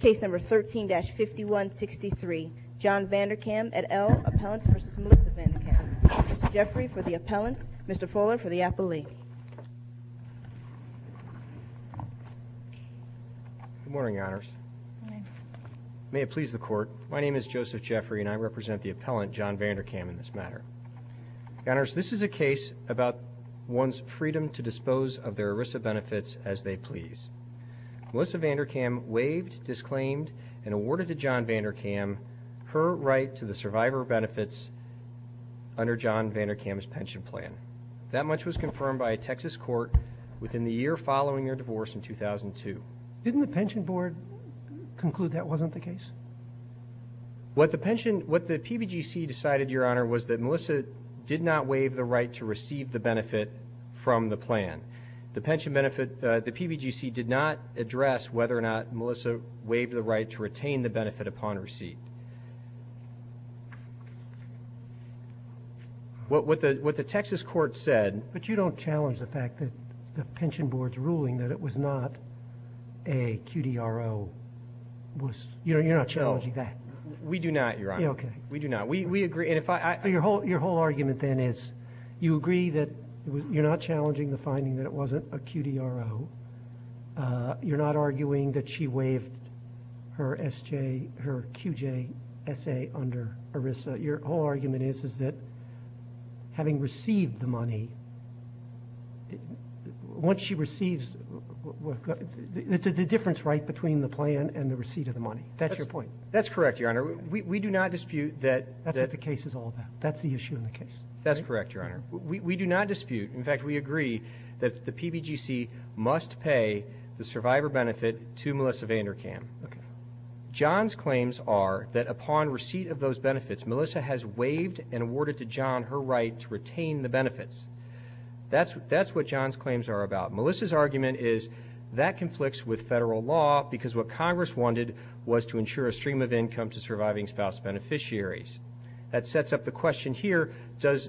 Case number 13-5163. John Vanderkam et al. Appellant v. Melissa Vanderkam. Mr. Jeffrey for the Appellant. Mr. Fuller for the Appellee. Good morning, Your Honors. May it please the Court. My name is Joseph Jeffrey and I represent the Appellant, John Vanderkam, in this matter. Your Honors, this is a case about one's freedom to dispose of their ERISA benefits as they please. Melissa Vanderkam waived, disclaimed, and awarded to John Vanderkam her right to the survivor benefits under John Vanderkam's pension plan. That much was confirmed by a Texas court within the year following their divorce in 2002. Didn't the Pension Board conclude that wasn't the case? What the PBGC decided, Your Honor, was that Melissa did not waive the right to receive the benefit from the plan. The pension benefit, the PBGC did not address whether or not Melissa waived the right to retain the benefit upon receipt. What the Texas court said... But you don't challenge the fact that the Pension Board's ruling that it was not a QDRO. You're not challenging that. We do not, Your Honor. Okay. We do not. We agree. Your whole argument then is you agree that you're not challenging the finding that it wasn't a QDRO. You're not arguing that she waived her QJSA under ERISA. Your whole argument is that having received the money, once she receives... The difference, right, between the plan and the receipt of the money. That's your point. That's correct, Your Honor. We do not dispute that... That's what the case is all about. That's the issue in the case. That's correct, Your Honor. We do not dispute. In fact, we agree that the PBGC must pay the survivor benefit to Melissa Vanderkam. Okay. John's claims are that upon receipt of those benefits, Melissa has waived and awarded to John her right to retain the benefits. That's what John's claims are about. Melissa's argument is that conflicts with federal law because what Congress wanted was to ensure a stream of income to surviving spouse beneficiaries. That sets up the question here, does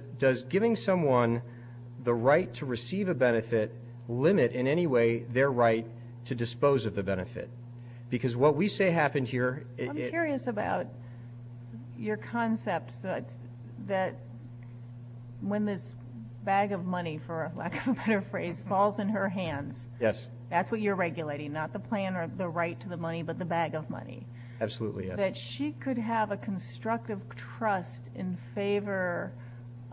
giving someone the right to receive a benefit limit in any way their right to dispose of the benefit? Because what we say happened here... I'm curious about your concept that when this bag of money, for lack of a better phrase, falls in her hands... Yes. That's what you're regulating, not the plan or the right to the money, but the bag of money. Absolutely, yes. That she could have a constructive trust in favor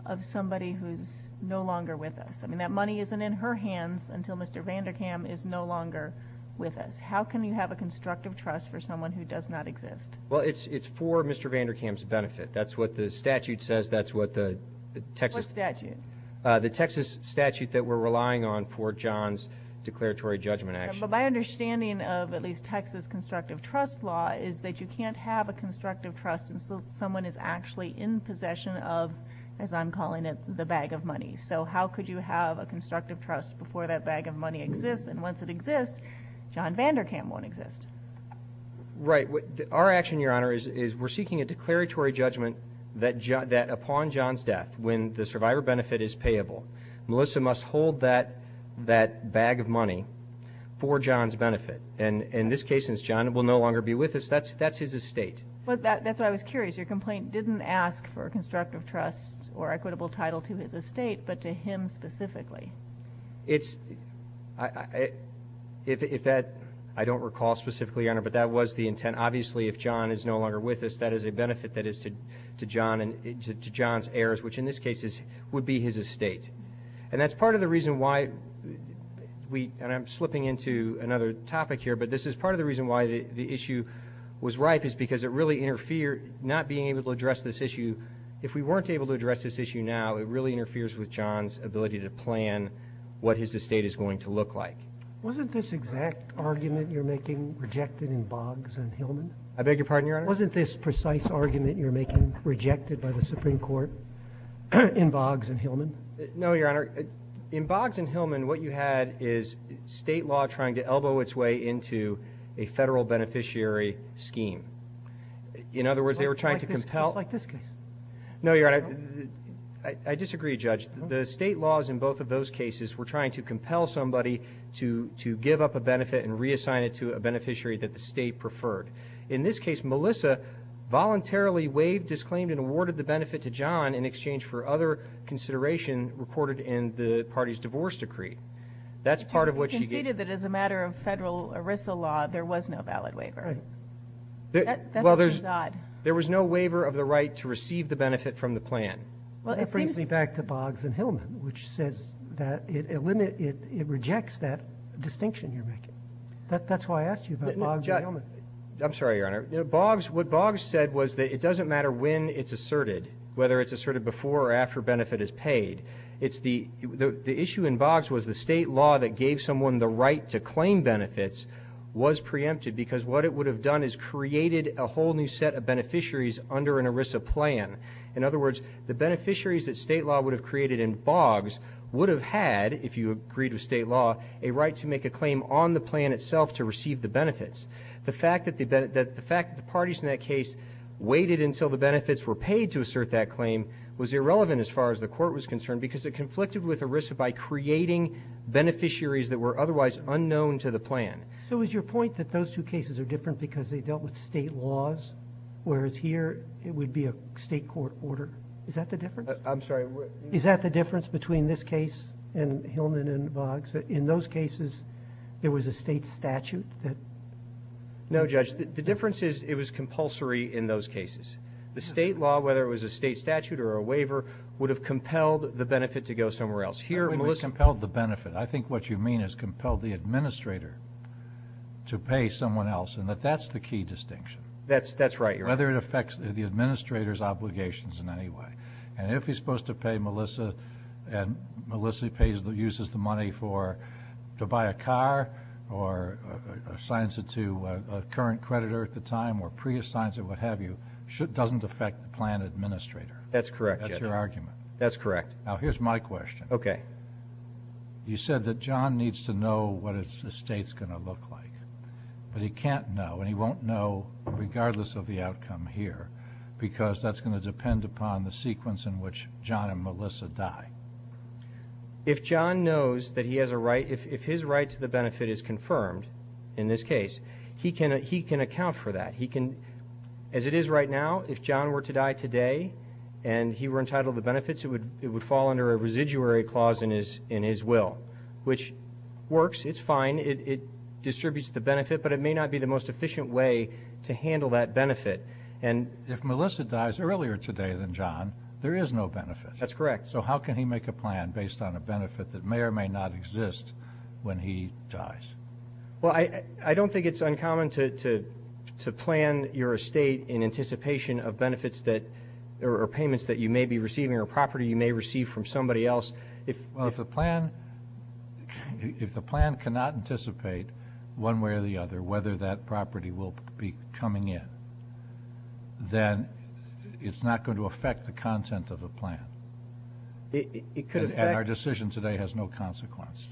of somebody who's no longer with us. I mean, that money isn't in her hands until Mr. Vanderkam is no longer with us. How can you have a constructive trust for someone who does not exist? Well, it's for Mr. Vanderkam's benefit. That's what the statute says. What statute? The Texas statute that we're relying on for John's declaratory judgment action. My understanding of at least Texas constructive trust law is that you can't have a constructive trust until someone is actually in possession of, as I'm calling it, the bag of money. So how could you have a constructive trust before that bag of money exists? And once it exists, John Vanderkam won't exist. Our action, Your Honor, is we're seeking a declaratory judgment that upon John's death, when the survivor benefit is payable, Melissa must hold that bag of money for John's benefit. And in this case, since John will no longer be with us, that's his estate. That's why I was curious. Your complaint didn't ask for a constructive trust or equitable title to his estate, but to him specifically. I don't recall specifically, Your Honor, but that was the intent. Obviously, if John is no longer with us, that is a benefit that is to John's heirs, which in this case would be his estate. And that's part of the reason why we — and I'm slipping into another topic here, but this is part of the reason why the issue was ripe is because it really interfered — not being able to address this issue. If we weren't able to address this issue now, it really interferes with John's ability to plan what his estate is going to look like. Wasn't this exact argument you're making rejected in Boggs and Hillman? I beg your pardon, Your Honor? Wasn't this precise argument you're making rejected by the Supreme Court in Boggs and Hillman? No, Your Honor. In Boggs and Hillman, what you had is state law trying to elbow its way into a federal beneficiary scheme. In other words, they were trying to compel — Just like this case. No, Your Honor. I disagree, Judge. The state laws in both of those cases were trying to compel somebody to give up a benefit and reassign it to a beneficiary that the state preferred. In this case, Melissa voluntarily waived, disclaimed, and awarded the benefit to John in exchange for other consideration reported in the party's divorce decree. That's part of what she gave — You conceded that as a matter of federal ERISA law, there was no valid waiver. Right. That seems odd. There was no waiver of the right to receive the benefit from the plan. Well, it seems — That brings me back to Boggs and Hillman, which says that it — it rejects that distinction you're making. That's why I asked you about Boggs and Hillman. I'm sorry, Your Honor. Boggs — what Boggs said was that it doesn't matter when it's asserted, whether it's asserted before or after benefit is paid. It's the — the issue in Boggs was the state law that gave someone the right to claim benefits was preempted because what it would have done is created a whole new set of beneficiaries under an ERISA plan. In other words, the beneficiaries that state law would have created in Boggs would have had, if you agreed with state law, a right to make a claim on the plan itself to receive the benefits. The fact that the — that the fact that the parties in that case waited until the benefits were paid to assert that claim was irrelevant as far as the court was concerned because it conflicted with ERISA by creating beneficiaries that were otherwise unknown to the plan. So is your point that those two cases are different because they dealt with state laws, whereas here it would be a state court order? Is that the difference? I'm sorry. Is that the difference between this case and Hillman and Boggs? In those cases, there was a state statute that — No, Judge. The difference is it was compulsory in those cases. The state law, whether it was a state statute or a waiver, would have compelled the benefit to go somewhere else. Here, Melissa — I don't think it compelled the benefit. I think what you mean is compelled the administrator to pay someone else, and that that's the key distinction. That's right, Your Honor. Whether it affects the administrator's obligations in any way. And if he's supposed to pay Melissa and Melissa uses the money to buy a car or assigns it to a current creditor at the time or pre-assigns it, what have you, it doesn't affect the plan administrator. That's correct, Your Honor. That's your argument. That's correct. Now, here's my question. Okay. You said that John needs to know what the state's going to look like, but he can't know and he won't know regardless of the outcome here because that's going to depend upon the sequence in which John and Melissa die. If John knows that he has a right — if his right to the benefit is confirmed in this case, he can account for that. He can — as it is right now, if John were to die today and he were entitled to benefits, it would fall under a residuary clause in his will, which works. It's fine. It distributes the benefit, but it may not be the most efficient way to handle that benefit. If Melissa dies earlier today than John, there is no benefit. That's correct. So how can he make a plan based on a benefit that may or may not exist when he dies? Well, I don't think it's uncommon to plan your estate in anticipation of benefits that — or payments that you may be receiving or property you may receive from somebody else. Well, if the plan cannot anticipate one way or the other whether that property will be coming in, then it's not going to affect the content of the plan. It could affect — And our decision today has no consequence.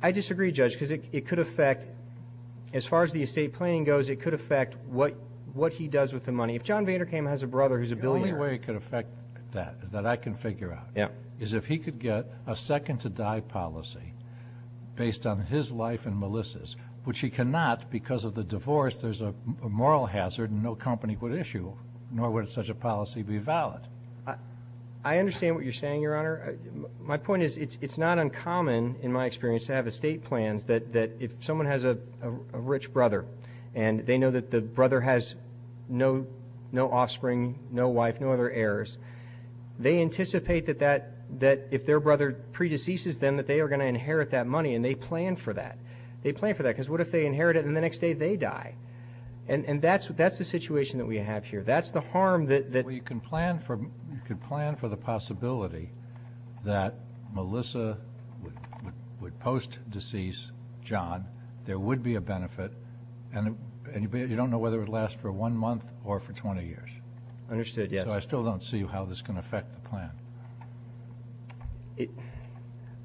I disagree, Judge, because it could affect — as far as the estate planning goes, it could affect what he does with the money. If John Vanderkam has a brother who's a billionaire — The only way it could affect that is that I can figure out. Yeah. Is if he could get a second-to-die policy based on his life and Melissa's, which he cannot because of the divorce. There's a moral hazard no company would issue, nor would such a policy be valid. I understand what you're saying, Your Honor. My point is it's not uncommon, in my experience, to have estate plans that if someone has a rich brother and they know that the brother has no offspring, no wife, no other heirs, they anticipate that if their brother predeceases them that they are going to inherit that money, and they plan for that. They plan for that because what if they inherit it and the next day they die? And that's the situation that we have here. That's the harm that — Well, you can plan for the possibility that Melissa would post-decease John. There would be a benefit. And you don't know whether it would last for one month or for 20 years. Understood, yes. So I still don't see how this can affect the plan.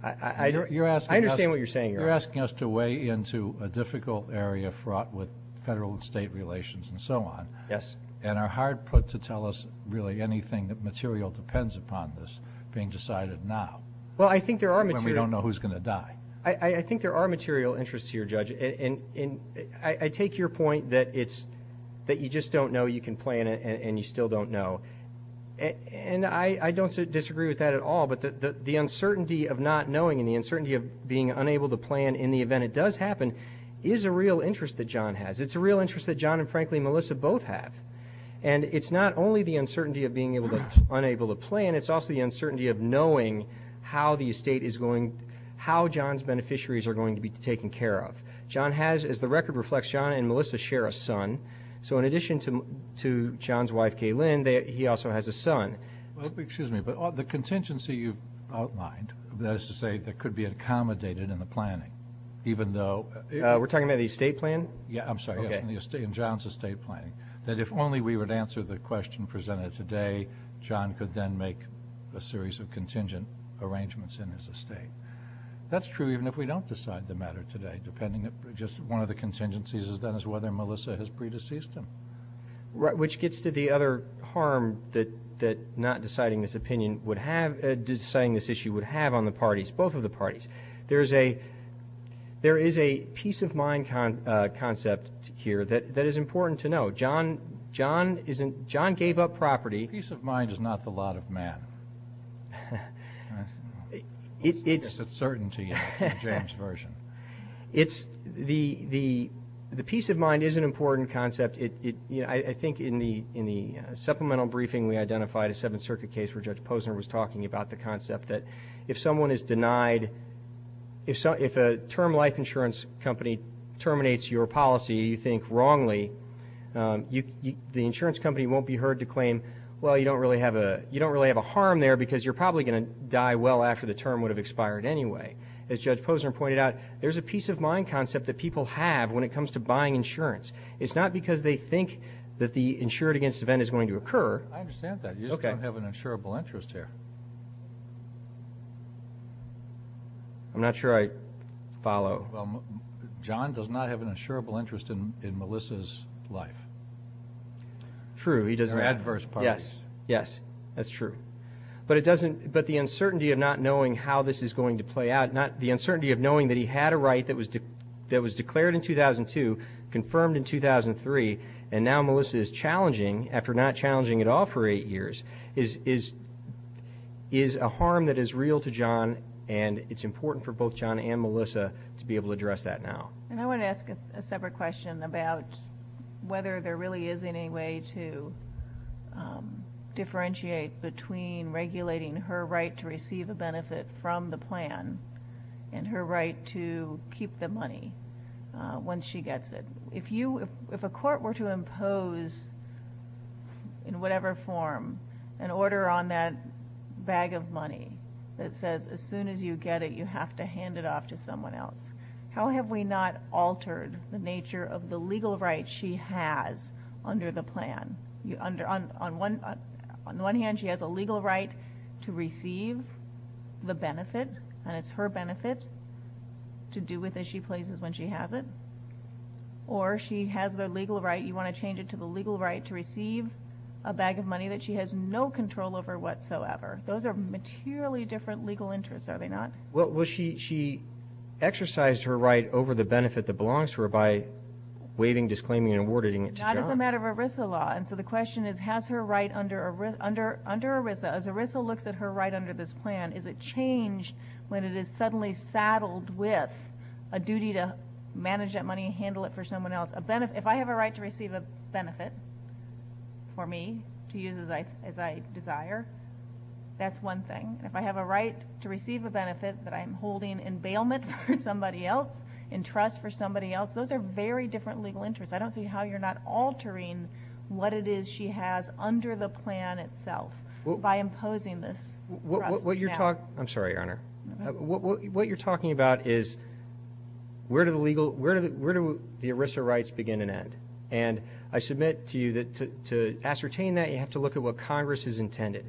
I understand what you're saying, Your Honor. You're asking us to weigh into a difficult area fraught with federal and state relations and so on. Yes. And are hard put to tell us really anything that material depends upon this being decided now. Well, I think there are material — When we don't know who's going to die. I think there are material interests here, Judge. I take your point that it's — that you just don't know, you can plan it, and you still don't know. And I don't disagree with that at all, but the uncertainty of not knowing and the uncertainty of being unable to plan in the event it does happen is a real interest that John has. It's a real interest that John and, frankly, Melissa both have. And it's not only the uncertainty of being unable to plan, it's also the uncertainty of knowing how the estate is going — how John's beneficiaries are going to be taken care of. John has, as the record reflects, John and Melissa share a son. So in addition to John's wife, Kay Lynn, he also has a son. Well, excuse me, but the contingency you've outlined, that is to say, that could be accommodated in the planning, even though — We're talking about the estate plan? Yeah, I'm sorry, yes, in John's estate planning. That if only we would answer the question presented today, John could then make a series of contingent arrangements in his estate. That's true even if we don't decide the matter today, depending if just one of the contingencies is whether Melissa has pre-deceased him. Which gets to the other harm that not deciding this opinion would have — deciding this issue would have on the parties, both of the parties. There is a peace of mind concept here that is important to know. John isn't — John gave up property. Peace of mind is not the lot of man. It's — That's a certainty in James' version. It's — the peace of mind is an important concept. I think in the supplemental briefing, we identified a Seventh Circuit case where Judge Posner was talking about the concept that if someone is denied — if a term life insurance company terminates your policy, you think wrongly, the insurance company won't be heard to claim, well, you don't really have a — you don't really have a harm there because you're probably going to die well after the term would have expired anyway. As Judge Posner pointed out, there's a peace of mind concept that people have when it comes to buying insurance. It's not because they think that the insured against event is going to occur. I understand that. You just don't have an insurable interest here. I'm not sure I follow. John does not have an insurable interest in Melissa's life. True, he doesn't. They're adverse parties. Yes. Yes, that's true. But it doesn't — but the uncertainty of not knowing how this is going to play out, not — the uncertainty of knowing that he had a right that was declared in 2002, confirmed in 2003, and now Melissa is challenging, and it's important for both John and Melissa to be able to address that now. And I want to ask a separate question about whether there really is any way to differentiate between regulating her right to receive a benefit from the plan and her right to keep the money when she gets it. If you — if a court were to impose, in whatever form, an order on that bag of money that says as soon as you get it, you have to hand it off to someone else, how have we not altered the nature of the legal right she has under the plan? On the one hand, she has a legal right to receive the benefit, and it's her benefit to do with it she places when she has it. Or she has the legal right — you want to change it to the legal right to receive a bag of money that she has no control over whatsoever. Those are materially different legal interests, are they not? Well, she exercised her right over the benefit that belongs to her by waiving, disclaiming, and awarding it to John. Not as a matter of ERISA law. And so the question is, has her right under ERISA, as ERISA looks at her right under this plan, is it changed when it is suddenly saddled with a duty to manage that money, handle it for someone else? If I have a right to receive a benefit for me to use as I desire, that's one thing. If I have a right to receive a benefit that I'm holding in bailment for somebody else, in trust for somebody else, those are very different legal interests. I don't see how you're not altering what it is she has under the plan itself by imposing this. I'm sorry, Your Honor. What you're talking about is where do the ERISA rights begin and end? And I submit to you that to ascertain that, you have to look at what Congress has intended.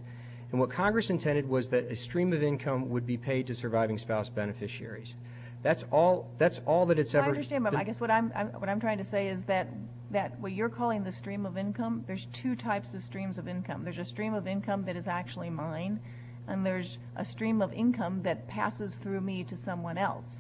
And what Congress intended was that a stream of income would be paid to surviving spouse beneficiaries. That's all that it's ever been. I guess what I'm trying to say is that what you're calling the stream of income, there's two types of streams of income. There's a stream of income that is actually mine, and there's a stream of income that passes through me to someone else.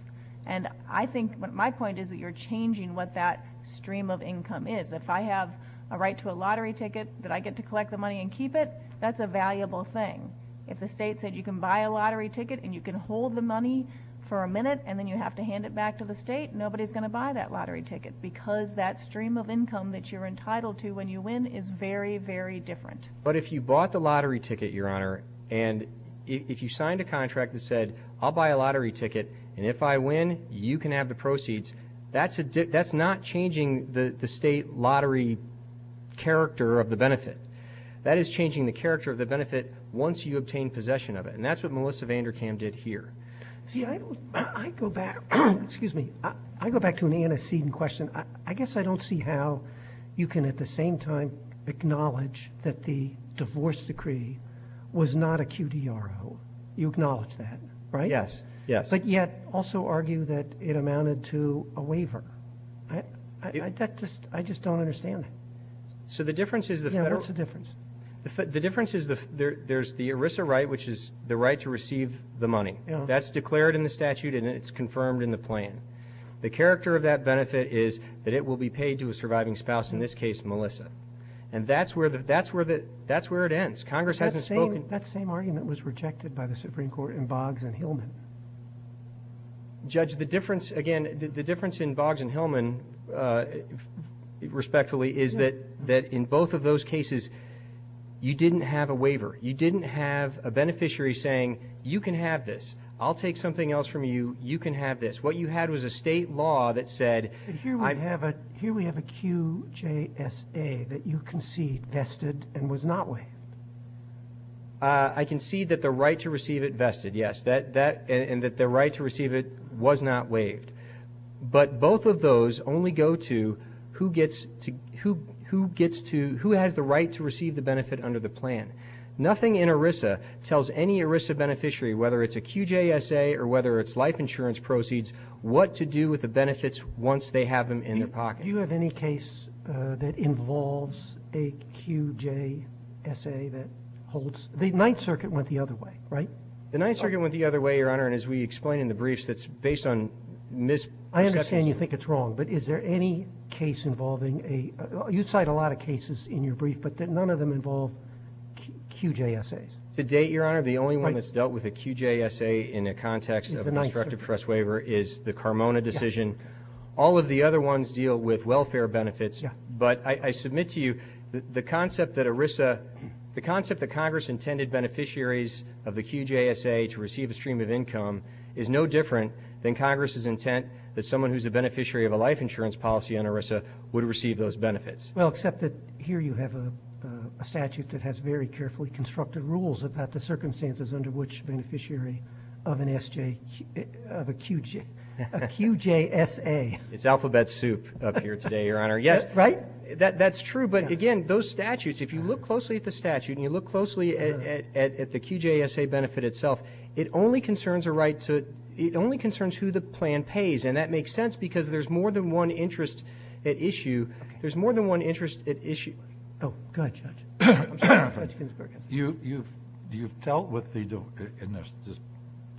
And I think my point is that you're changing what that stream of income is. If I have a right to a lottery ticket that I get to collect the money and keep it, that's a valuable thing. If the state said you can buy a lottery ticket and you can hold the money for a minute and then you have to hand it back to the state, nobody's going to buy that lottery ticket because that stream of income that you're entitled to when you win is very, very different. But if you bought the lottery ticket, Your Honor, and if you signed a contract that said, I'll buy a lottery ticket, and if I win, you can have the proceeds, that's not changing the state lottery character of the benefit. That is changing the character of the benefit once you obtain possession of it. And that's what Melissa Vanderkam did here. See, I go back to an antecedent question. I guess I don't see how you can at the same time acknowledge that the divorce decree was not a QDRO. You acknowledge that, right? Yes, yes. But yet also argue that it amounted to a waiver. I just don't understand that. So the difference is the federal. Yeah, what's the difference? The difference is there's the ERISA right, which is the right to receive the money. That's declared in the statute and it's confirmed in the plan. The character of that benefit is that it will be paid to a surviving spouse, in this case, Melissa. And that's where it ends. Congress hasn't spoken. That same argument was rejected by the Supreme Court in Boggs and Hillman. Judge, the difference, again, the difference in Boggs and Hillman, respectfully, is that in both of those cases, you didn't have a waiver. You didn't have a beneficiary saying, you can have this. I'll take something else from you. You can have this. What you had was a state law that said. Here we have a QJSA that you concede vested and was not waived. I concede that the right to receive it vested, yes, and that the right to receive it was not waived. But both of those only go to who has the right to receive the benefit under the plan. Nothing in ERISA tells any ERISA beneficiary, whether it's a QJSA or whether it's life insurance proceeds, what to do with the benefits once they have them in their pocket. Do you have any case that involves a QJSA that holds? The Ninth Circuit went the other way, right? The Ninth Circuit went the other way, Your Honor, and as we explain in the briefs, it's based on misperceptions. I understand you think it's wrong, but is there any case involving a – you cite a lot of cases in your brief, but none of them involve QJSAs. To date, Your Honor, the only one that's dealt with a QJSA in the context of an instructive trust waiver is the Carmona decision. All of the other ones deal with welfare benefits. But I submit to you the concept that ERISA – the concept that Congress intended beneficiaries of the QJSA to receive a stream of income is no different than Congress's intent that someone who's a beneficiary of a life insurance policy under ERISA would receive those benefits. Well, except that here you have a statute that has very carefully constructed rules about the circumstances under which a beneficiary of an SJ – of a QJ – a QJSA. It's alphabet soup up here today, Your Honor. Yes. Right? That's true. But, again, those statutes, if you look closely at the statute and you look closely at the QJSA benefit itself, it only concerns a right to – it only concerns who the plan pays. And that makes sense because there's more than one interest at issue. Okay. There's more than one interest at issue. Oh, go ahead, Judge. You've dealt with the – in this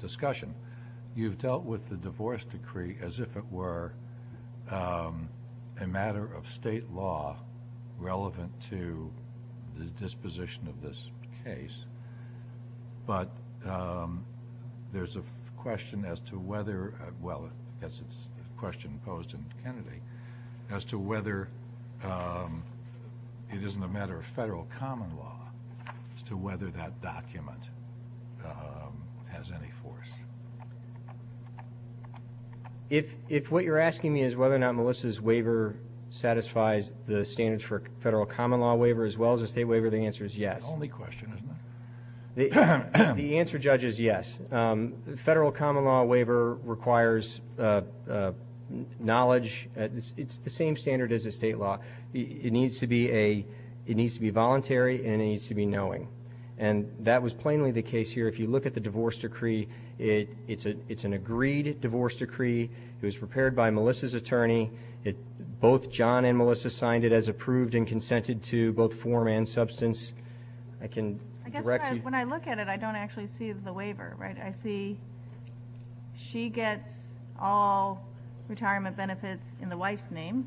discussion, you've dealt with the divorce decree as if it were a matter of state law relevant to the disposition of this case. But there's a question as to whether – well, it's a question posed in Kennedy – as to whether it isn't a matter of federal common law as to whether that document has any force. If what you're asking me is whether or not Melissa's waiver satisfies the standards for a federal common law waiver as well as a state waiver, the answer is yes. That's the only question, isn't it? The answer, Judge, is yes. Federal common law waiver requires knowledge. It's the same standard as a state law. It needs to be a – it needs to be voluntary and it needs to be knowing. And that was plainly the case here. If you look at the divorce decree, it's an agreed divorce decree. It was prepared by Melissa's attorney. Both John and Melissa signed it as approved and consented to both form and substance. I can direct you. I guess when I look at it, I don't actually see the waiver, right? I see she gets all retirement benefits in the wife's name,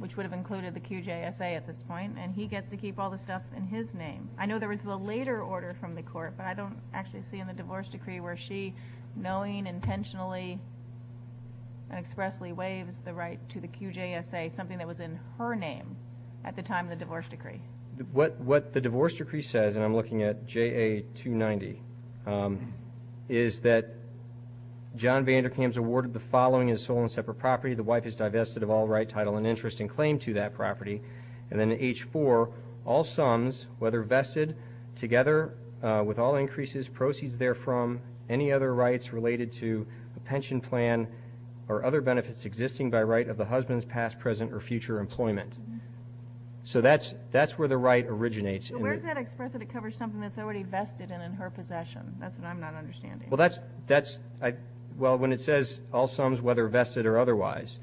which would have included the QJSA at this point, and he gets to keep all the stuff in his name. I know there was a later order from the court, but I don't actually see in the divorce decree where she knowing intentionally and expressly waives the right to the QJSA, something that was in her name at the time of the divorce decree. What the divorce decree says, and I'm looking at JA290, is that John Vanderkams awarded the following as sole and separate property. The wife is divested of all right, title, and interest in claim to that property. And then H4, all sums, whether vested, together with all increases, proceeds therefrom, any other rights related to a pension plan or other benefits existing by right of the husband's past, present, or future employment. So that's where the right originates. So where does that express that it covers something that's already vested and in her possession? That's what I'm not understanding. Well, when it says all sums, whether vested or otherwise,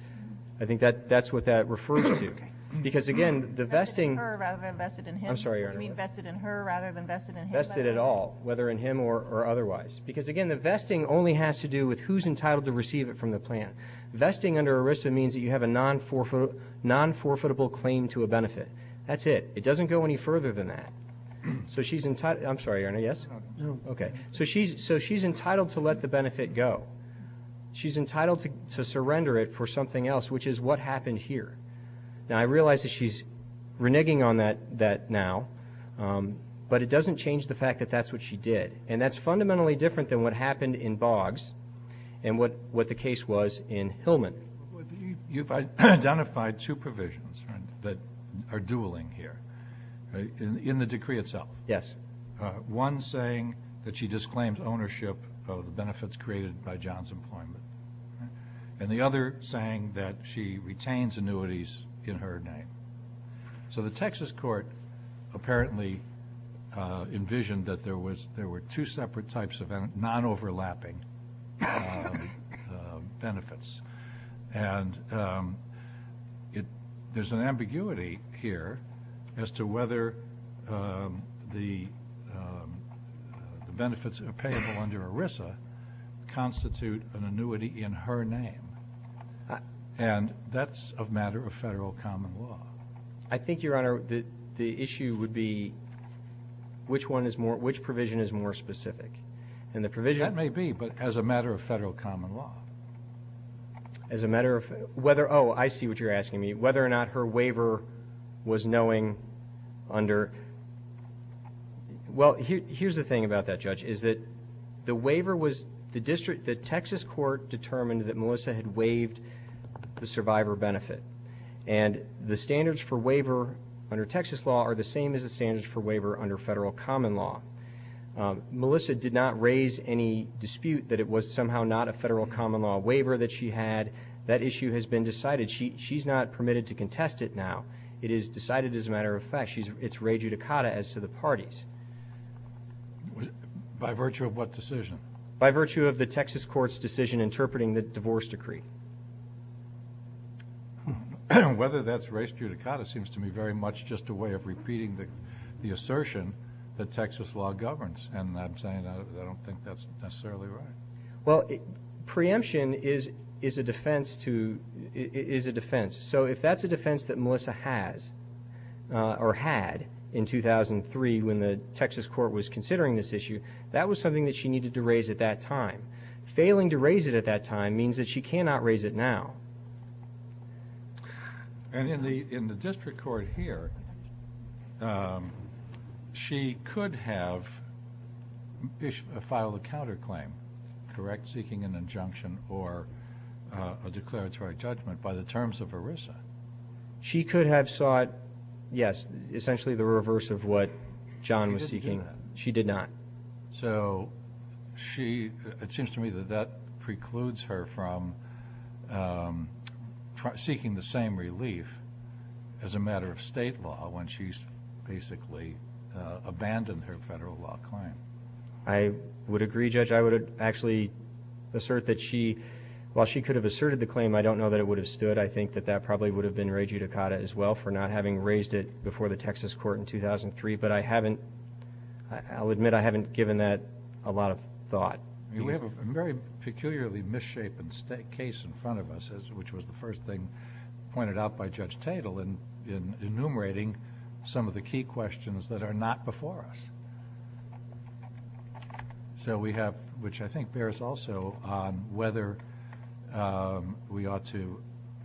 I think that's what that refers to. Okay. Because, again, the vesting. You mean vested in her rather than vested in him? I'm sorry, Your Honor. You mean vested in her rather than vested in him? Vested at all, whether in him or otherwise. Because, again, the vesting only has to do with who's entitled to receive it from the plan. Vesting under ERISA means that you have a non-forfeitable claim to a benefit. That's it. It doesn't go any further than that. I'm sorry, Your Honor, yes? No. Okay. So she's entitled to let the benefit go. She's entitled to surrender it for something else, which is what happened here. Now, I realize that she's reneging on that now, but it doesn't change the fact that that's what she did. And that's fundamentally different than what happened in Boggs and what the case was in Hillman. You've identified two provisions that are dueling here in the decree itself. Yes. One saying that she disclaims ownership of the benefits created by John's employment. And the other saying that she retains annuities in her name. So the Texas court apparently envisioned that there were two separate types of non-overlapping benefits. And there's an ambiguity here as to whether the benefits payable under ERISA constitute an annuity in her name. And that's a matter of federal common law. I think, Your Honor, the issue would be which provision is more specific. That may be, but as a matter of federal common law. As a matter of whether – oh, I see what you're asking me. Whether or not her waiver was knowing under – well, here's the thing about that, Judge, is that the waiver was – the Texas court determined that Melissa had waived the survivor benefit. And the standards for waiver under Texas law are the same as the standards for waiver under federal common law. Melissa did not raise any dispute that it was somehow not a federal common law waiver that she had. That issue has been decided. She's not permitted to contest it now. It is decided as a matter of fact. It's re judicata as to the parties. By virtue of what decision? By virtue of the Texas court's decision interpreting the divorce decree. Whether that's re judicata seems to me very much just a way of repeating the assertion that Texas law governs. And I'm saying I don't think that's necessarily right. Well, preemption is a defense to – is a defense. So if that's a defense that Melissa has or had in 2003 when the Texas court was considering this issue, that was something that she needed to raise at that time. Failing to raise it at that time means that she cannot raise it now. And in the district court here, she could have filed a counterclaim, correct? Seeking an injunction or a declaratory judgment by the terms of ERISA. She could have sought, yes, essentially the reverse of what John was seeking. She did not. So she – it seems to me that that precludes her from seeking the same relief as a matter of state law when she's basically abandoned her federal law claim. I would agree, Judge. I would actually assert that she – while she could have asserted the claim, I don't know that it would have stood. I think that that probably would have been re judicata as well for not having raised it before the Texas court in 2003. But I haven't – I'll admit I haven't given that a lot of thought. We have a very peculiarly misshapen case in front of us, which was the first thing pointed out by Judge Tatel in enumerating some of the key questions that are not before us. So we have – which I think bears also on whether we ought to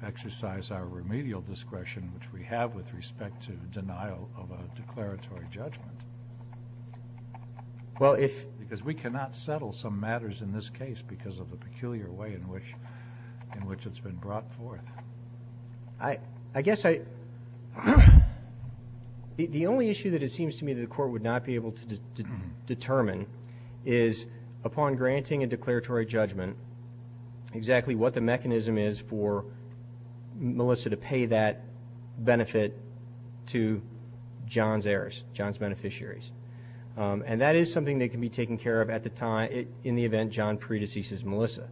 exercise our remedial discretion, which we have with respect to denial of a declaratory judgment. Well, if – Because we cannot settle some matters in this case because of the peculiar way in which it's been brought forth. I guess I – the only issue that it seems to me that the court would not be able to determine is upon granting a declaratory judgment exactly what the mechanism is for Melissa to pay that benefit to John's heirs, John's beneficiaries. And that is something that can be taken care of at the time – in the event John predeceases Melissa,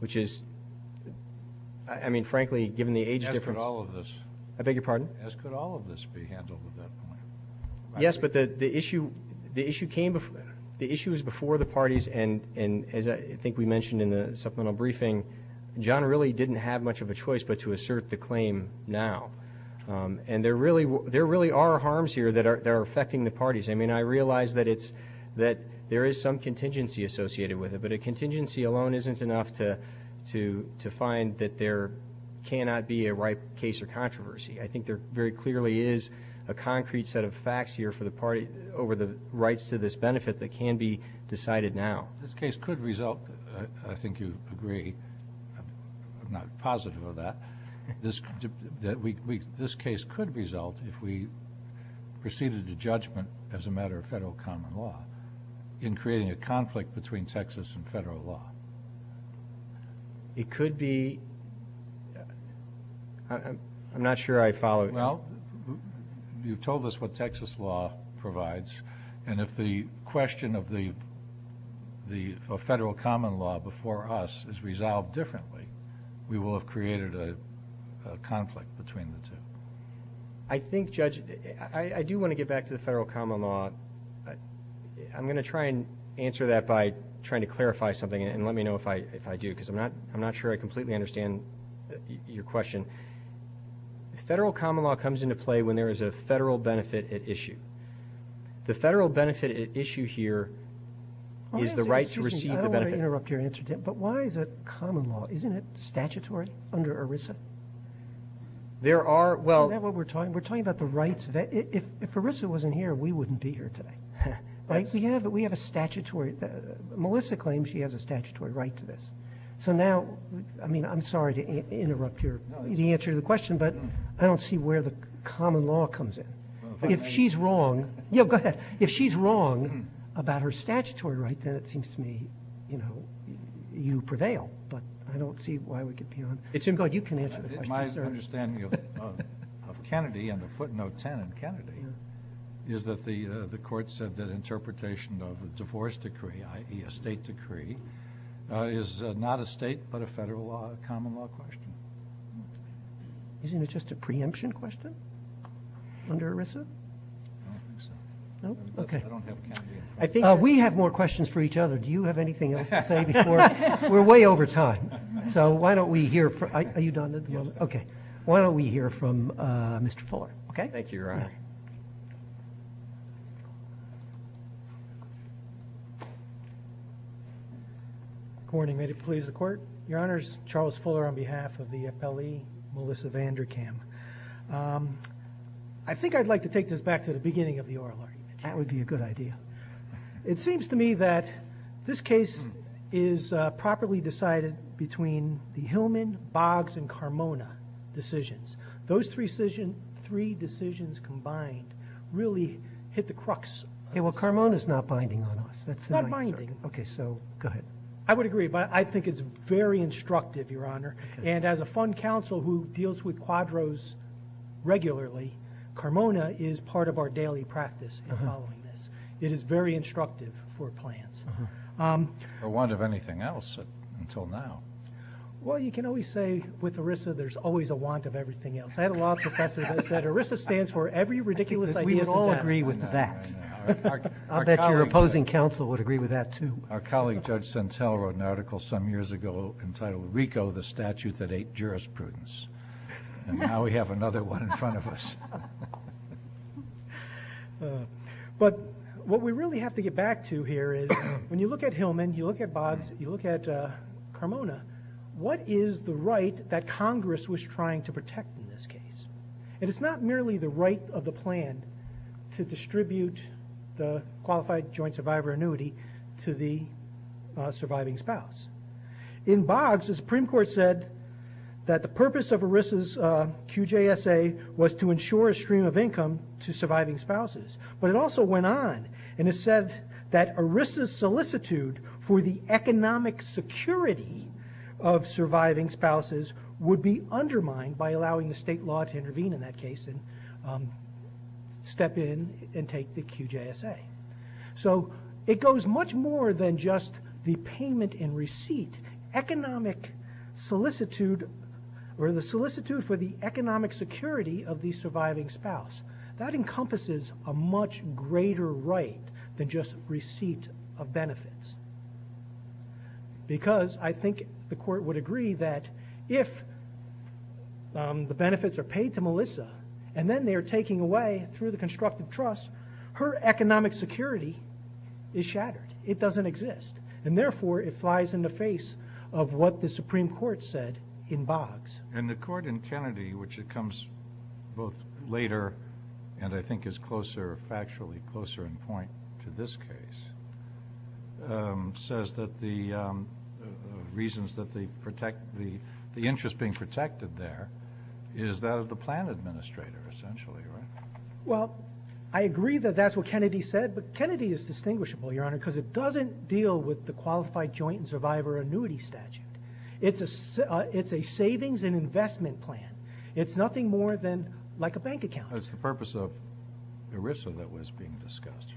which is – I mean, frankly, given the age difference. As could all of this. I beg your pardon? As could all of this be handled at that point. Yes, but the issue came – the issue was before the parties, and as I think we mentioned in the supplemental briefing, John really didn't have much of a choice but to assert the claim now. And there really are harms here that are affecting the parties. I mean, I realize that it's – that there is some contingency associated with it, but a contingency alone isn't enough to find that there cannot be a ripe case of controversy. I think there very clearly is a concrete set of facts here for the party over the rights to this benefit that can be decided now. This case could result – I think you agree, I'm not positive of that – this case could result if we proceeded to judgment as a matter of federal common law in creating a conflict between Texas and federal law. It could be – I'm not sure I follow. Well, you've told us what Texas law provides, and if the question of the federal common law before us is resolved differently, we will have created a conflict between the two. I think, Judge, I do want to get back to the federal common law. I'm going to try and answer that by trying to clarify something, and let me know if I do because I'm not sure I completely understand your question. Federal common law comes into play when there is a federal benefit at issue. The federal benefit at issue here is the right to receive the benefit. I don't want to interrupt your answer, Tim, but why is it common law? Isn't it statutory under ERISA? There are – well – Isn't that what we're talking about? We're talking about the rights – if ERISA wasn't here, we wouldn't be here today. Yeah, but we have a statutory – Melissa claims she has a statutory right to this. So now – I mean, I'm sorry to interrupt your answer to the question, but I don't see where the common law comes in. If she's wrong – yeah, go ahead. If she's wrong about her statutory right, then it seems to me, you know, you prevail. But I don't see why we could be on – Tim, go ahead. You can answer the question, sir. My understanding of Kennedy and the footnote 10 in Kennedy is that the court said that interpretation of a divorce decree, i.e. a state decree, is not a state but a federal common law question. Isn't it just a preemption question under ERISA? I don't think so. No? Okay. I don't have Kennedy in front of me. We have more questions for each other. Do you have anything else to say before – we're way over time. So why don't we hear – are you done at the moment? Okay. Why don't we hear from Mr. Fuller, okay? Thank you, Your Honor. Good morning. May it please the Court? Your Honors, Charles Fuller on behalf of the FLE, Melissa Vanderkam. I think I'd like to take this back to the beginning of the oral argument. That would be a good idea. It seems to me that this case is properly decided between the Hillman, Boggs, and Carmona decisions. Those three decisions combined really hit the crux. Well, Carmona is not binding on us. It's not binding. Okay, so go ahead. I would agree, but I think it's very instructive, Your Honor. And as a fund counsel who deals with quadros regularly, Carmona is part of our daily practice in following this. It is very instructive for plans. A want of anything else until now? Well, you can always say with ERISA there's always a want of everything else. I had a law professor that said ERISA stands for every ridiculous idea. We would all agree with that. I'll bet your opposing counsel would agree with that, too. Our colleague, Judge Sentell, wrote an article some years ago entitled RICO, the statute that ate jurisprudence. And now we have another one in front of us. But what we really have to get back to here is when you look at Hillman, you look at Boggs, you look at Carmona, what is the right that Congress was trying to protect in this case? And it's not merely the right of the plan to distribute the qualified joint survivor annuity to the surviving spouse. In Boggs, the Supreme Court said that the purpose of ERISA's QJSA was to ensure a stream of income to surviving spouses. But it also went on and it said that ERISA's solicitude for the economic security of surviving spouses would be undermined by allowing the state law to intervene in that case and step in and take the QJSA. So it goes much more than just the payment and receipt. Economic solicitude or the solicitude for the economic security of the surviving spouse, that encompasses a much greater right than just receipt of benefits because I think the court would agree that if the benefits are paid to Melissa and then they are taken away through the constructive trust, her economic security is shattered. It doesn't exist. And, therefore, it flies in the face of what the Supreme Court said in Boggs. And the court in Kennedy, which it comes both later and I think is closer, factually closer in point to this case, says that the reasons that they protect the interest being protected there is that of the plan administrator essentially, right? Well, I agree that that's what Kennedy said, but Kennedy is distinguishable, Your Honor, because it doesn't deal with the qualified joint and survivor annuity statute. It's a savings and investment plan. It's nothing more than like a bank account. It's the purpose of ERISA that was being discussed.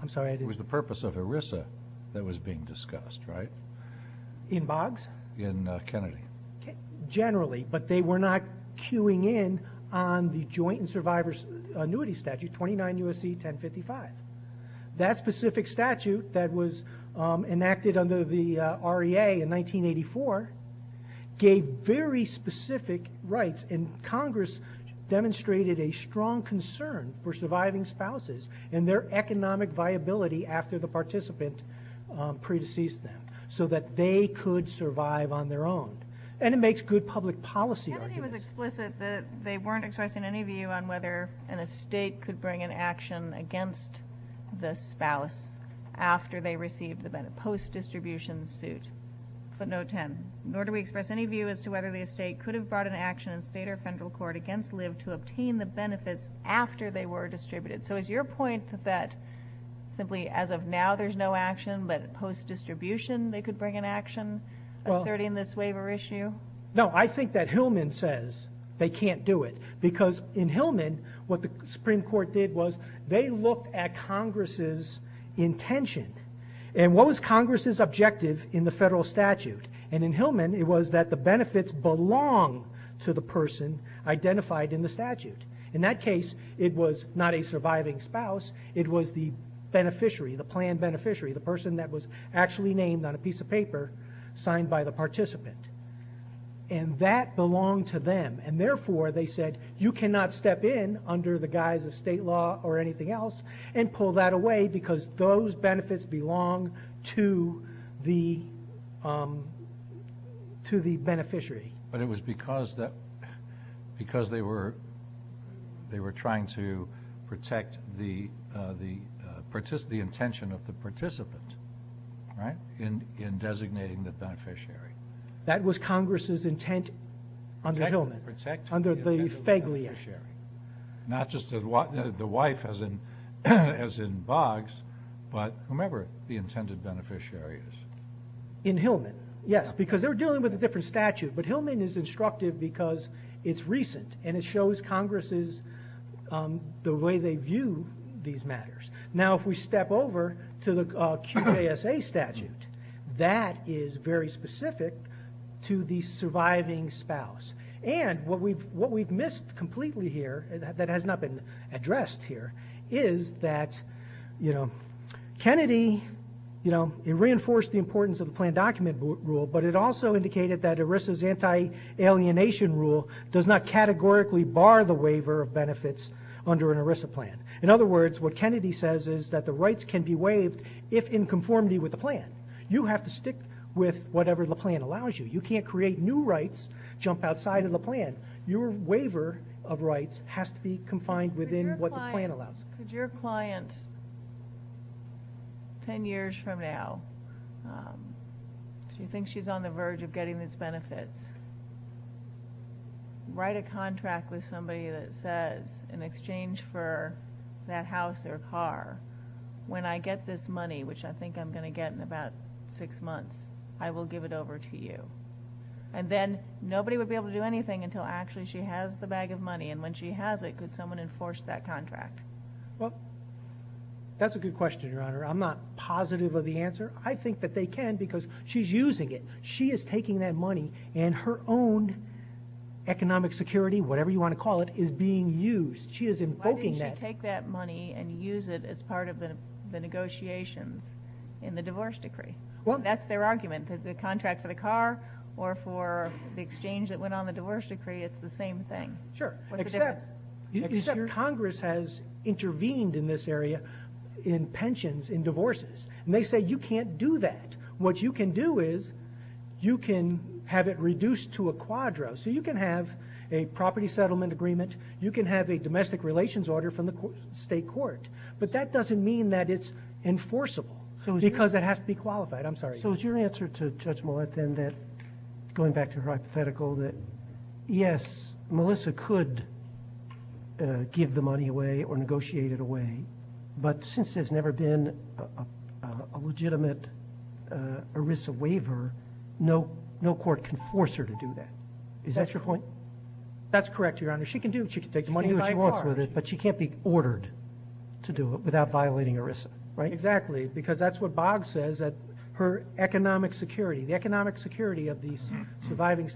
I'm sorry? It was the purpose of ERISA that was being discussed, right? In Boggs? In Kennedy. Generally, but they were not queuing in on the joint and survivor annuity statute 29 U.S.C. 1055. That specific statute that was enacted under the REA in 1984 gave very specific rights, and Congress demonstrated a strong concern for surviving spouses and their economic viability after the participant predeceased them so that they could survive on their own. And it makes good public policy arguments. Kennedy was explicit that they weren't expressing any view on whether an estate could bring an action against the spouse after they received the post-distribution suit. But note 10, nor do we express any view as to whether the estate could have brought an action in state or federal court against Liv to obtain the benefits after they were distributed. So is your point that simply as of now there's no action, but post-distribution they could bring an action asserting this waiver issue? No, I think that Hillman says they can't do it because in Hillman what the Supreme Court did was they looked at Congress' intention. And what was Congress' objective in the federal statute? And in Hillman it was that the benefits belonged to the person identified in the statute. In that case, it was not a surviving spouse. It was the beneficiary, the planned beneficiary, the person that was actually named on a piece of paper signed by the participant. And that belonged to them. And therefore, they said, you cannot step in under the guise of state law or anything else and pull that away because those benefits belong to the beneficiary. But it was because they were trying to protect the intention of the participant in designating the beneficiary. That was Congress' intent under Hillman, under the Feiglian. Not just the wife as in Boggs, but whomever the intended beneficiary is. In Hillman, yes, because they were dealing with a different statute. But Hillman is instructive because it's recent and it shows Congress' the way they view these matters. Now if we step over to the QASA statute, that is very specific to the surviving spouse. And what we've missed completely here that has not been addressed here is that Kennedy reinforced the importance of the planned document rule, but it also indicated that ERISA's anti-alienation rule does not categorically bar the waiver of benefits under an ERISA plan. In other words, what Kennedy says is that the rights can be waived if in conformity with the plan. You have to stick with whatever the plan allows you. You can't create new rights, jump outside of the plan. Your waiver of rights has to be confined within what the plan allows. Could your client, ten years from now, if you think she's on the verge of getting these benefits, write a contract with somebody that says, in exchange for that house or car, when I get this money, which I think I'm going to get in about six months, I will give it over to you. And then nobody would be able to do anything until actually she has the bag of money, and when she has it, could someone enforce that contract? Well, that's a good question, Your Honor. I'm not positive of the answer. I think that they can because she's using it. She is taking that money and her own economic security, whatever you want to call it, is being used. She is invoking that. She's going to take that money and use it as part of the negotiations in the divorce decree. That's their argument. The contract for the car or for the exchange that went on the divorce decree, it's the same thing. Sure, except Congress has intervened in this area in pensions, in divorces, and they say you can't do that. What you can do is you can have it reduced to a quadro. So you can have a property settlement agreement. You can have a domestic relations order from the state court. But that doesn't mean that it's enforceable because it has to be qualified. I'm sorry. So is your answer to Judge Millett then that, going back to her hypothetical, that yes, Melissa could give the money away or negotiate it away, but since there's never been a legitimate ERISA waiver, no court can force her to do that. Is that your point? That's correct, Your Honor. She can do it. She can take the money she wants with it, but she can't be ordered to do it without violating ERISA, right? Exactly, because that's what Boggs says, her economic security, the economic security of the surviving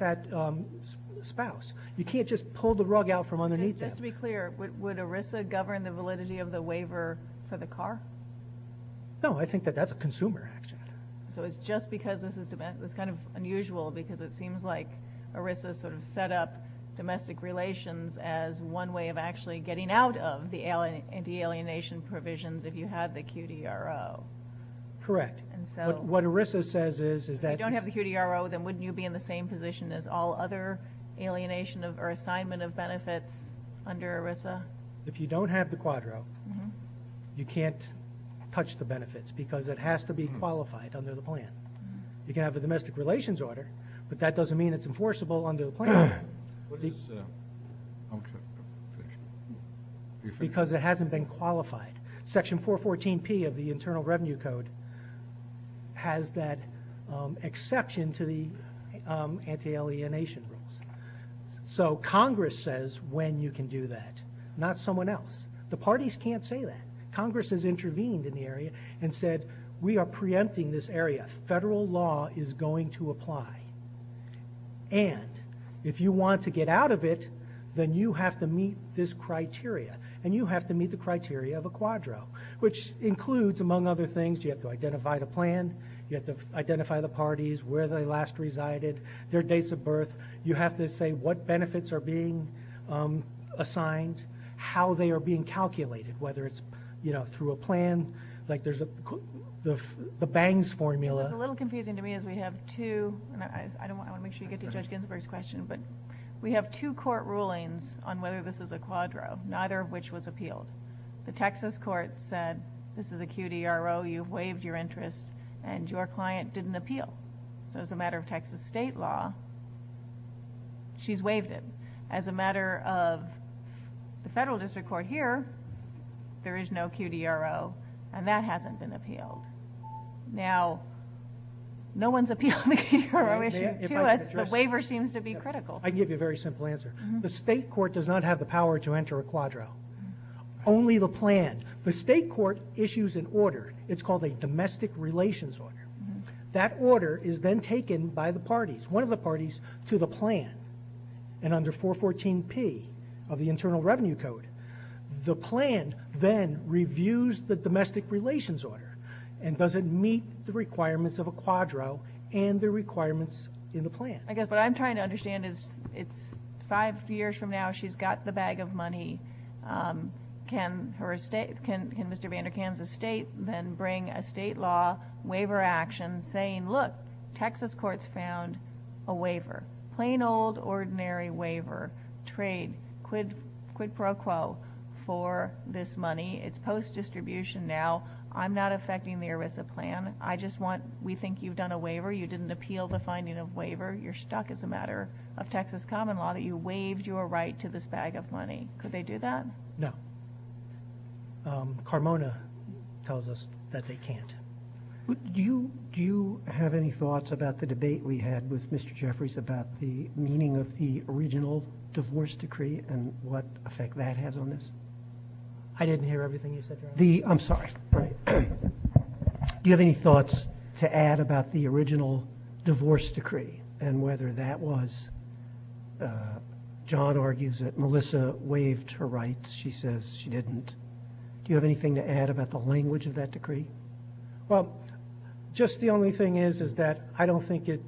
spouse. You can't just pull the rug out from underneath that. Just to be clear, would ERISA govern the validity of the waiver for the car? No, I think that that's a consumer action. So it's just because this is kind of unusual because it seems like ERISA sort of set up domestic relations as one way of actually getting out of the alienation provisions if you have the QDRO. Correct. What ERISA says is that if you don't have the QDRO, then wouldn't you be in the same position as all other alienation or assignment of benefits under ERISA? If you don't have the Quadro, you can't touch the benefits because it has to be qualified under the plan. You can have a domestic relations order, but that doesn't mean it's enforceable under the plan. Because it hasn't been qualified. Section 414P of the Internal Revenue Code has that exception to the anti-alienation rules. So Congress says when you can do that, not someone else. The parties can't say that. Congress has intervened in the area and said, we are preempting this area. Federal law is going to apply. And if you want to get out of it, then you have to meet this criteria, and you have to meet the criteria of a Quadro, which includes, among other things, you have to identify the plan, you have to identify the parties, where they last resided, their dates of birth. You have to say what benefits are being assigned, how they are being calculated, whether it's through a plan. There's the Bangs formula. What's a little confusing to me is we have two, and I want to make sure you get to Judge Ginsburg's question, but we have two court rulings on whether this is a Quadro, neither of which was appealed. The Texas court said, this is a QDRO, you've waived your interest, and your client didn't appeal. So as a matter of Texas state law, she's waived it. As a matter of the federal district court here, there is no QDRO, and that hasn't been appealed. Now, no one's appealed the QDRO issue to us, but waiver seems to be critical. I can give you a very simple answer. The state court does not have the power to enter a Quadro. Only the plan. The state court issues an order. It's called a domestic relations order. That order is then taken by the parties. One of the parties to the plan, and under 414P of the Internal Revenue Code, the plan then reviews the domestic relations order, and does it meet the requirements of a Quadro, and the requirements in the plan. I guess what I'm trying to understand is, it's five years from now, she's got the bag of money. Can Mr. Vanderkam's estate then bring a state law waiver action, saying, look, Texas courts found a waiver, plain old ordinary waiver, trade, quid pro quo for this money. It's post-distribution now. I'm not affecting the ERISA plan. I just want, we think you've done a waiver. You didn't appeal the finding of waiver. You're stuck as a matter of Texas common law that you waived your right to this bag of money. Could they do that? No. Carmona tells us that they can't. Do you have any thoughts about the debate we had with Mr. Jeffries about the meaning of the original divorce decree and what effect that has on this? I didn't hear everything you said, Your Honor. I'm sorry. Do you have any thoughts to add about the original divorce decree and whether that was, John argues that Melissa waived her rights. She says she didn't. Do you have anything to add about the language of that decree? Well, just the only thing is, is that I don't think it,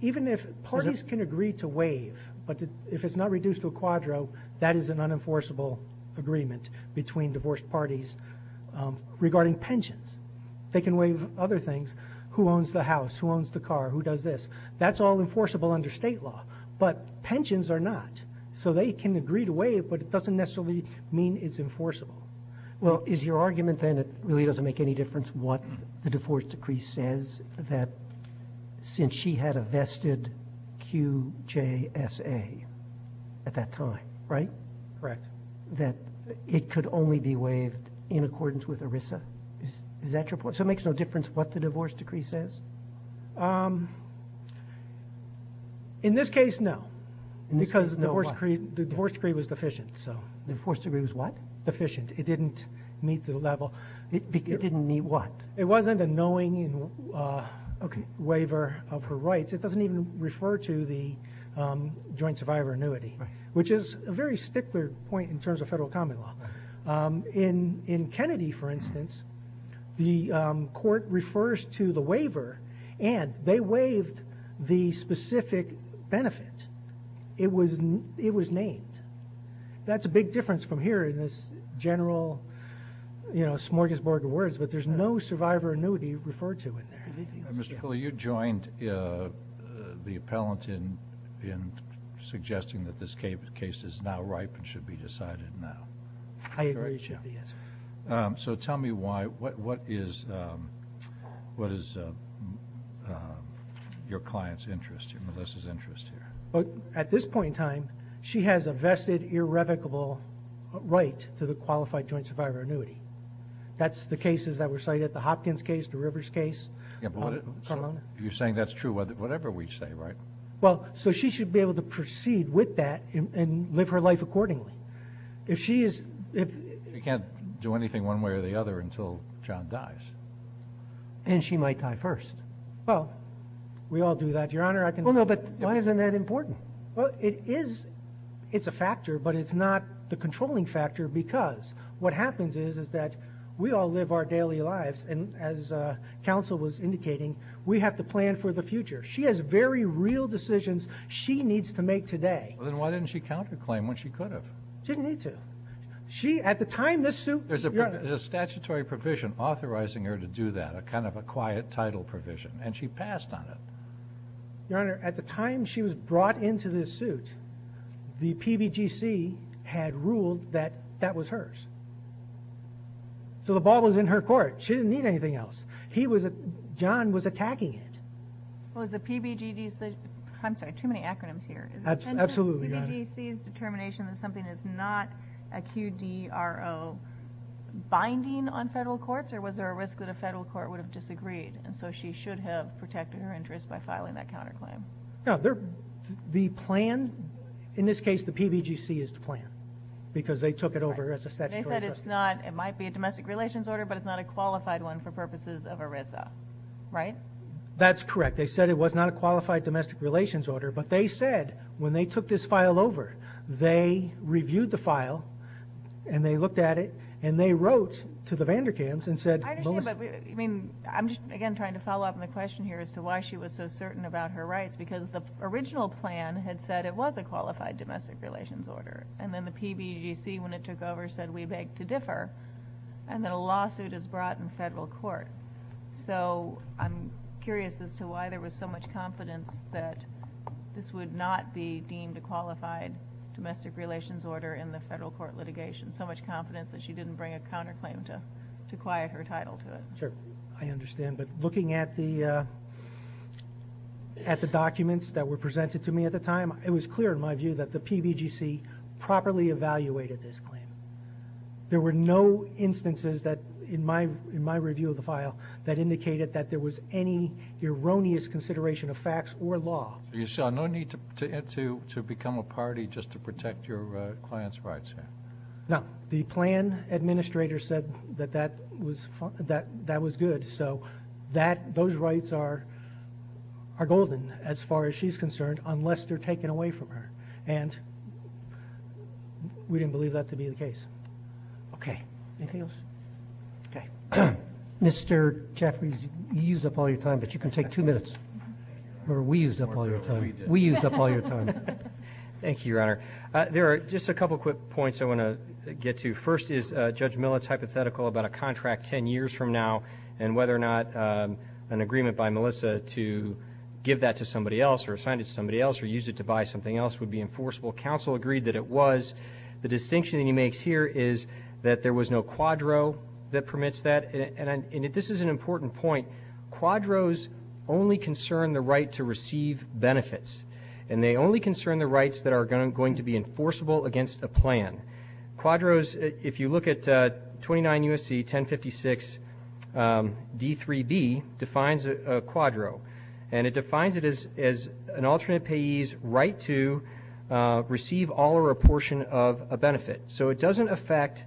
even if parties can agree to waive, but if it's not reduced to a quadro, that is an unenforceable agreement between divorced parties regarding pensions. They can waive other things. Who owns the house? Who owns the car? Who does this? That's all enforceable under state law, but pensions are not. So they can agree to waive, but it doesn't necessarily mean it's enforceable. Well, is your argument then it really doesn't make any difference what the divorce decree says that since she had a vested QJSA at that time, right? Correct. That it could only be waived in accordance with ERISA? Is that your point? So it makes no difference what the divorce decree says? In this case, no. Because the divorce decree was deficient. The divorce decree was what? Deficient. It didn't meet the level. It didn't meet what? It wasn't a knowing waiver of her rights. It doesn't even refer to the joint survivor annuity, which is a very stickler point in terms of federal common law. In Kennedy, for instance, the court refers to the waiver, and they waived the specific benefit. It was named. That's a big difference from here in this general smorgasbord of words, but there's no survivor annuity referred to in there. Mr. Cooley, you joined the appellant in suggesting that this case is now ripe and should be decided now. I agree with you on the answer. So tell me why. What is your client's interest here, Melissa's interest here? At this point in time, she has a vested irrevocable right to the qualified joint survivor annuity. That's the cases that were cited, the Hopkins case, the Rivers case. You're saying that's true, whatever we say, right? Well, so she should be able to proceed with that and live her life accordingly. You can't do anything one way or the other until John dies. Well, we all do that, Your Honor. Well, no, but why isn't that important? Well, it is. It's a factor, but it's not the controlling factor because what happens is that we all live our daily lives, and as counsel was indicating, we have to plan for the future. She has very real decisions she needs to make today. Then why didn't she counterclaim when she could have? She didn't need to. She, at the time, this suit. There's a statutory provision authorizing her to do that, a kind of a quiet title provision, and she passed on it. Your Honor, at the time she was brought into this suit, the PBGC had ruled that that was hers. So the ball was in her court. She didn't need anything else. John was attacking it. Well, is the PBGC, I'm sorry, too many acronyms here. Absolutely, Your Honor. Is the PBGC's determination that something is not a QDRO binding on federal courts, or was there a risk that a federal court would have disagreed, and so she should have protected her interest by filing that counterclaim? No, the plan, in this case, the PBGC is the plan because they took it over as a statutory question. They said it's not, it might be a domestic relations order, but it's not a qualified one for purposes of ERISA, right? That's correct. They said it was not a qualified domestic relations order, but they said when they took this file over, they reviewed the file, and they looked at it, and they wrote to the Vanderkamps and said, I understand, but I'm again trying to follow up on the question here as to why she was so certain about her rights because the original plan had said it was a qualified domestic relations order, and then the PBGC, when it took over, said we beg to differ, and then a lawsuit is brought in federal court. So I'm curious as to why there was so much confidence that this would not be deemed a qualified domestic relations order in the federal court litigation, so much confidence that she didn't bring a counterclaim to quiet her title to it. Sure. I understand. But looking at the documents that were presented to me at the time, it was clear in my view that the PBGC properly evaluated this claim. There were no instances in my review of the file that indicated that there was any erroneous consideration of facts or law. So you saw no need to become a party just to protect your client's rights here? No. The plan administrator said that that was good, so those rights are golden as far as she's concerned, unless they're taken away from her, and we didn't believe that to be the case. Okay. Anything else? Okay. Mr. Jeffries, you used up all your time, but you can take two minutes. Remember, we used up all your time. We used up all your time. Thank you, Your Honor. There are just a couple quick points I want to get to. First is Judge Millett's hypothetical about a contract ten years from now and whether or not an agreement by Melissa to give that to somebody else or assign it to somebody else or use it to buy something else would be enforceable. Counsel agreed that it was. The distinction that he makes here is that there was no quadro that permits that, and this is an important point. Quadros only concern the right to receive benefits, and they only concern the rights that are going to be enforceable against a plan. Quadros, if you look at 29 U.S.C. 1056 D3B, defines a quadro, and it defines it as an alternate payee's right to receive all or a portion of a benefit. So it doesn't affect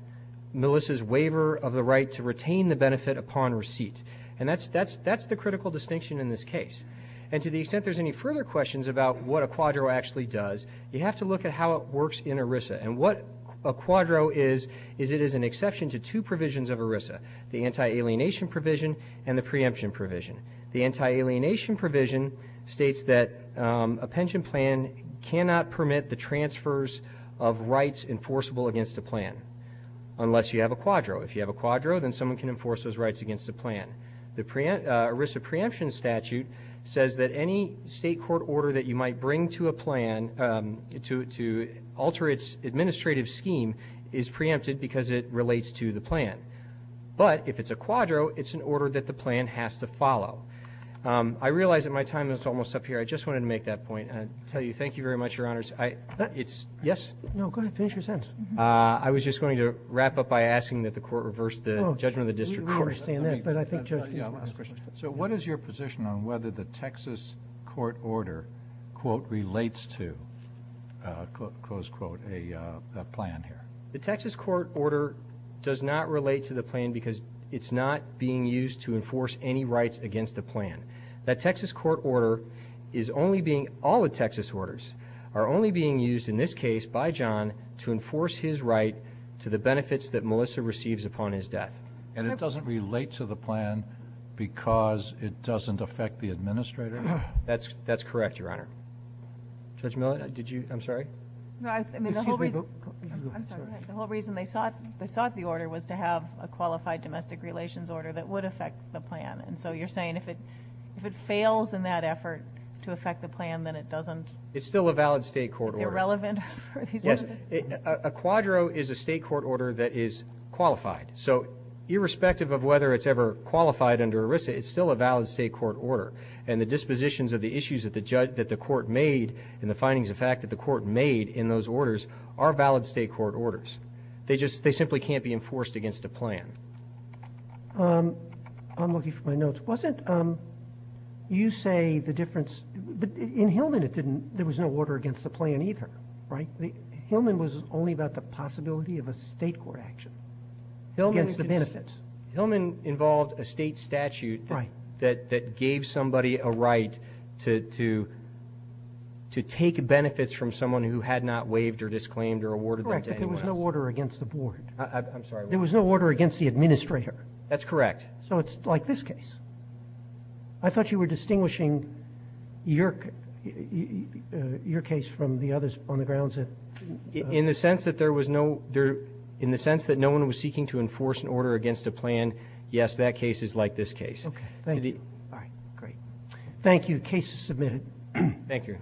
Melissa's waiver of the right to retain the benefit upon receipt, and that's the critical distinction in this case. And to the extent there's any further questions about what a quadro actually does, you have to look at how it works in ERISA, and what a quadro is is it is an exception to two provisions of ERISA, the anti-alienation provision and the preemption provision. The anti-alienation provision states that a pension plan cannot permit the transfers of rights enforceable against a plan unless you have a quadro. If you have a quadro, then someone can enforce those rights against a plan. The ERISA preemption statute says that any state court order that you might bring to a plan to alter its administrative scheme is preempted because it relates to the plan. But if it's a quadro, it's an order that the plan has to follow. I realize that my time is almost up here. I just wanted to make that point and tell you thank you very much, Your Honors. Yes? No, go ahead. Finish your sentence. I was just going to wrap up by asking that the court reverse the judgment of the district court. So what is your position on whether the Texas court order, quote, relates to, close quote, a plan here? The Texas court order does not relate to the plan because it's not being used to enforce any rights against a plan. That Texas court order is only being, all the Texas orders are only being used in this case by John to enforce his right to the benefits that Melissa receives upon his death. And it doesn't relate to the plan because it doesn't affect the administrator? That's correct, Your Honor. Judge Miller, did you? I'm sorry? No, I mean, the whole reason they sought the order was to have a qualified domestic relations order that would affect the plan. And so you're saying if it fails in that effort to affect the plan, then it doesn't? It's still a valid state court order. Is it relevant? Yes. A quadro is a state court order that is qualified. So irrespective of whether it's ever qualified under ERISA, it's still a valid state court order. And the dispositions of the issues that the court made and the findings of fact that the court made in those orders are valid state court orders. They just, they simply can't be enforced against a plan. I'm looking for my notes. Wasn't, you say the difference, but in Hillman it didn't, there was no order against the plan either, right? Hillman was only about the possibility of a state court action against the benefits. Hillman involved a state statute that gave somebody a right to take benefits from someone who had not waived or disclaimed or awarded them to anyone else. Correct, but there was no order against the board. I'm sorry? There was no order against the administrator. That's correct. So it's like this case. I thought you were distinguishing your case from the others on the grounds that... In the sense that there was no, in the sense that no one was seeking to enforce an order against a plan, yes, that case is like this case. Okay, thank you. All right, great. Thank you. The case is submitted. Thank you.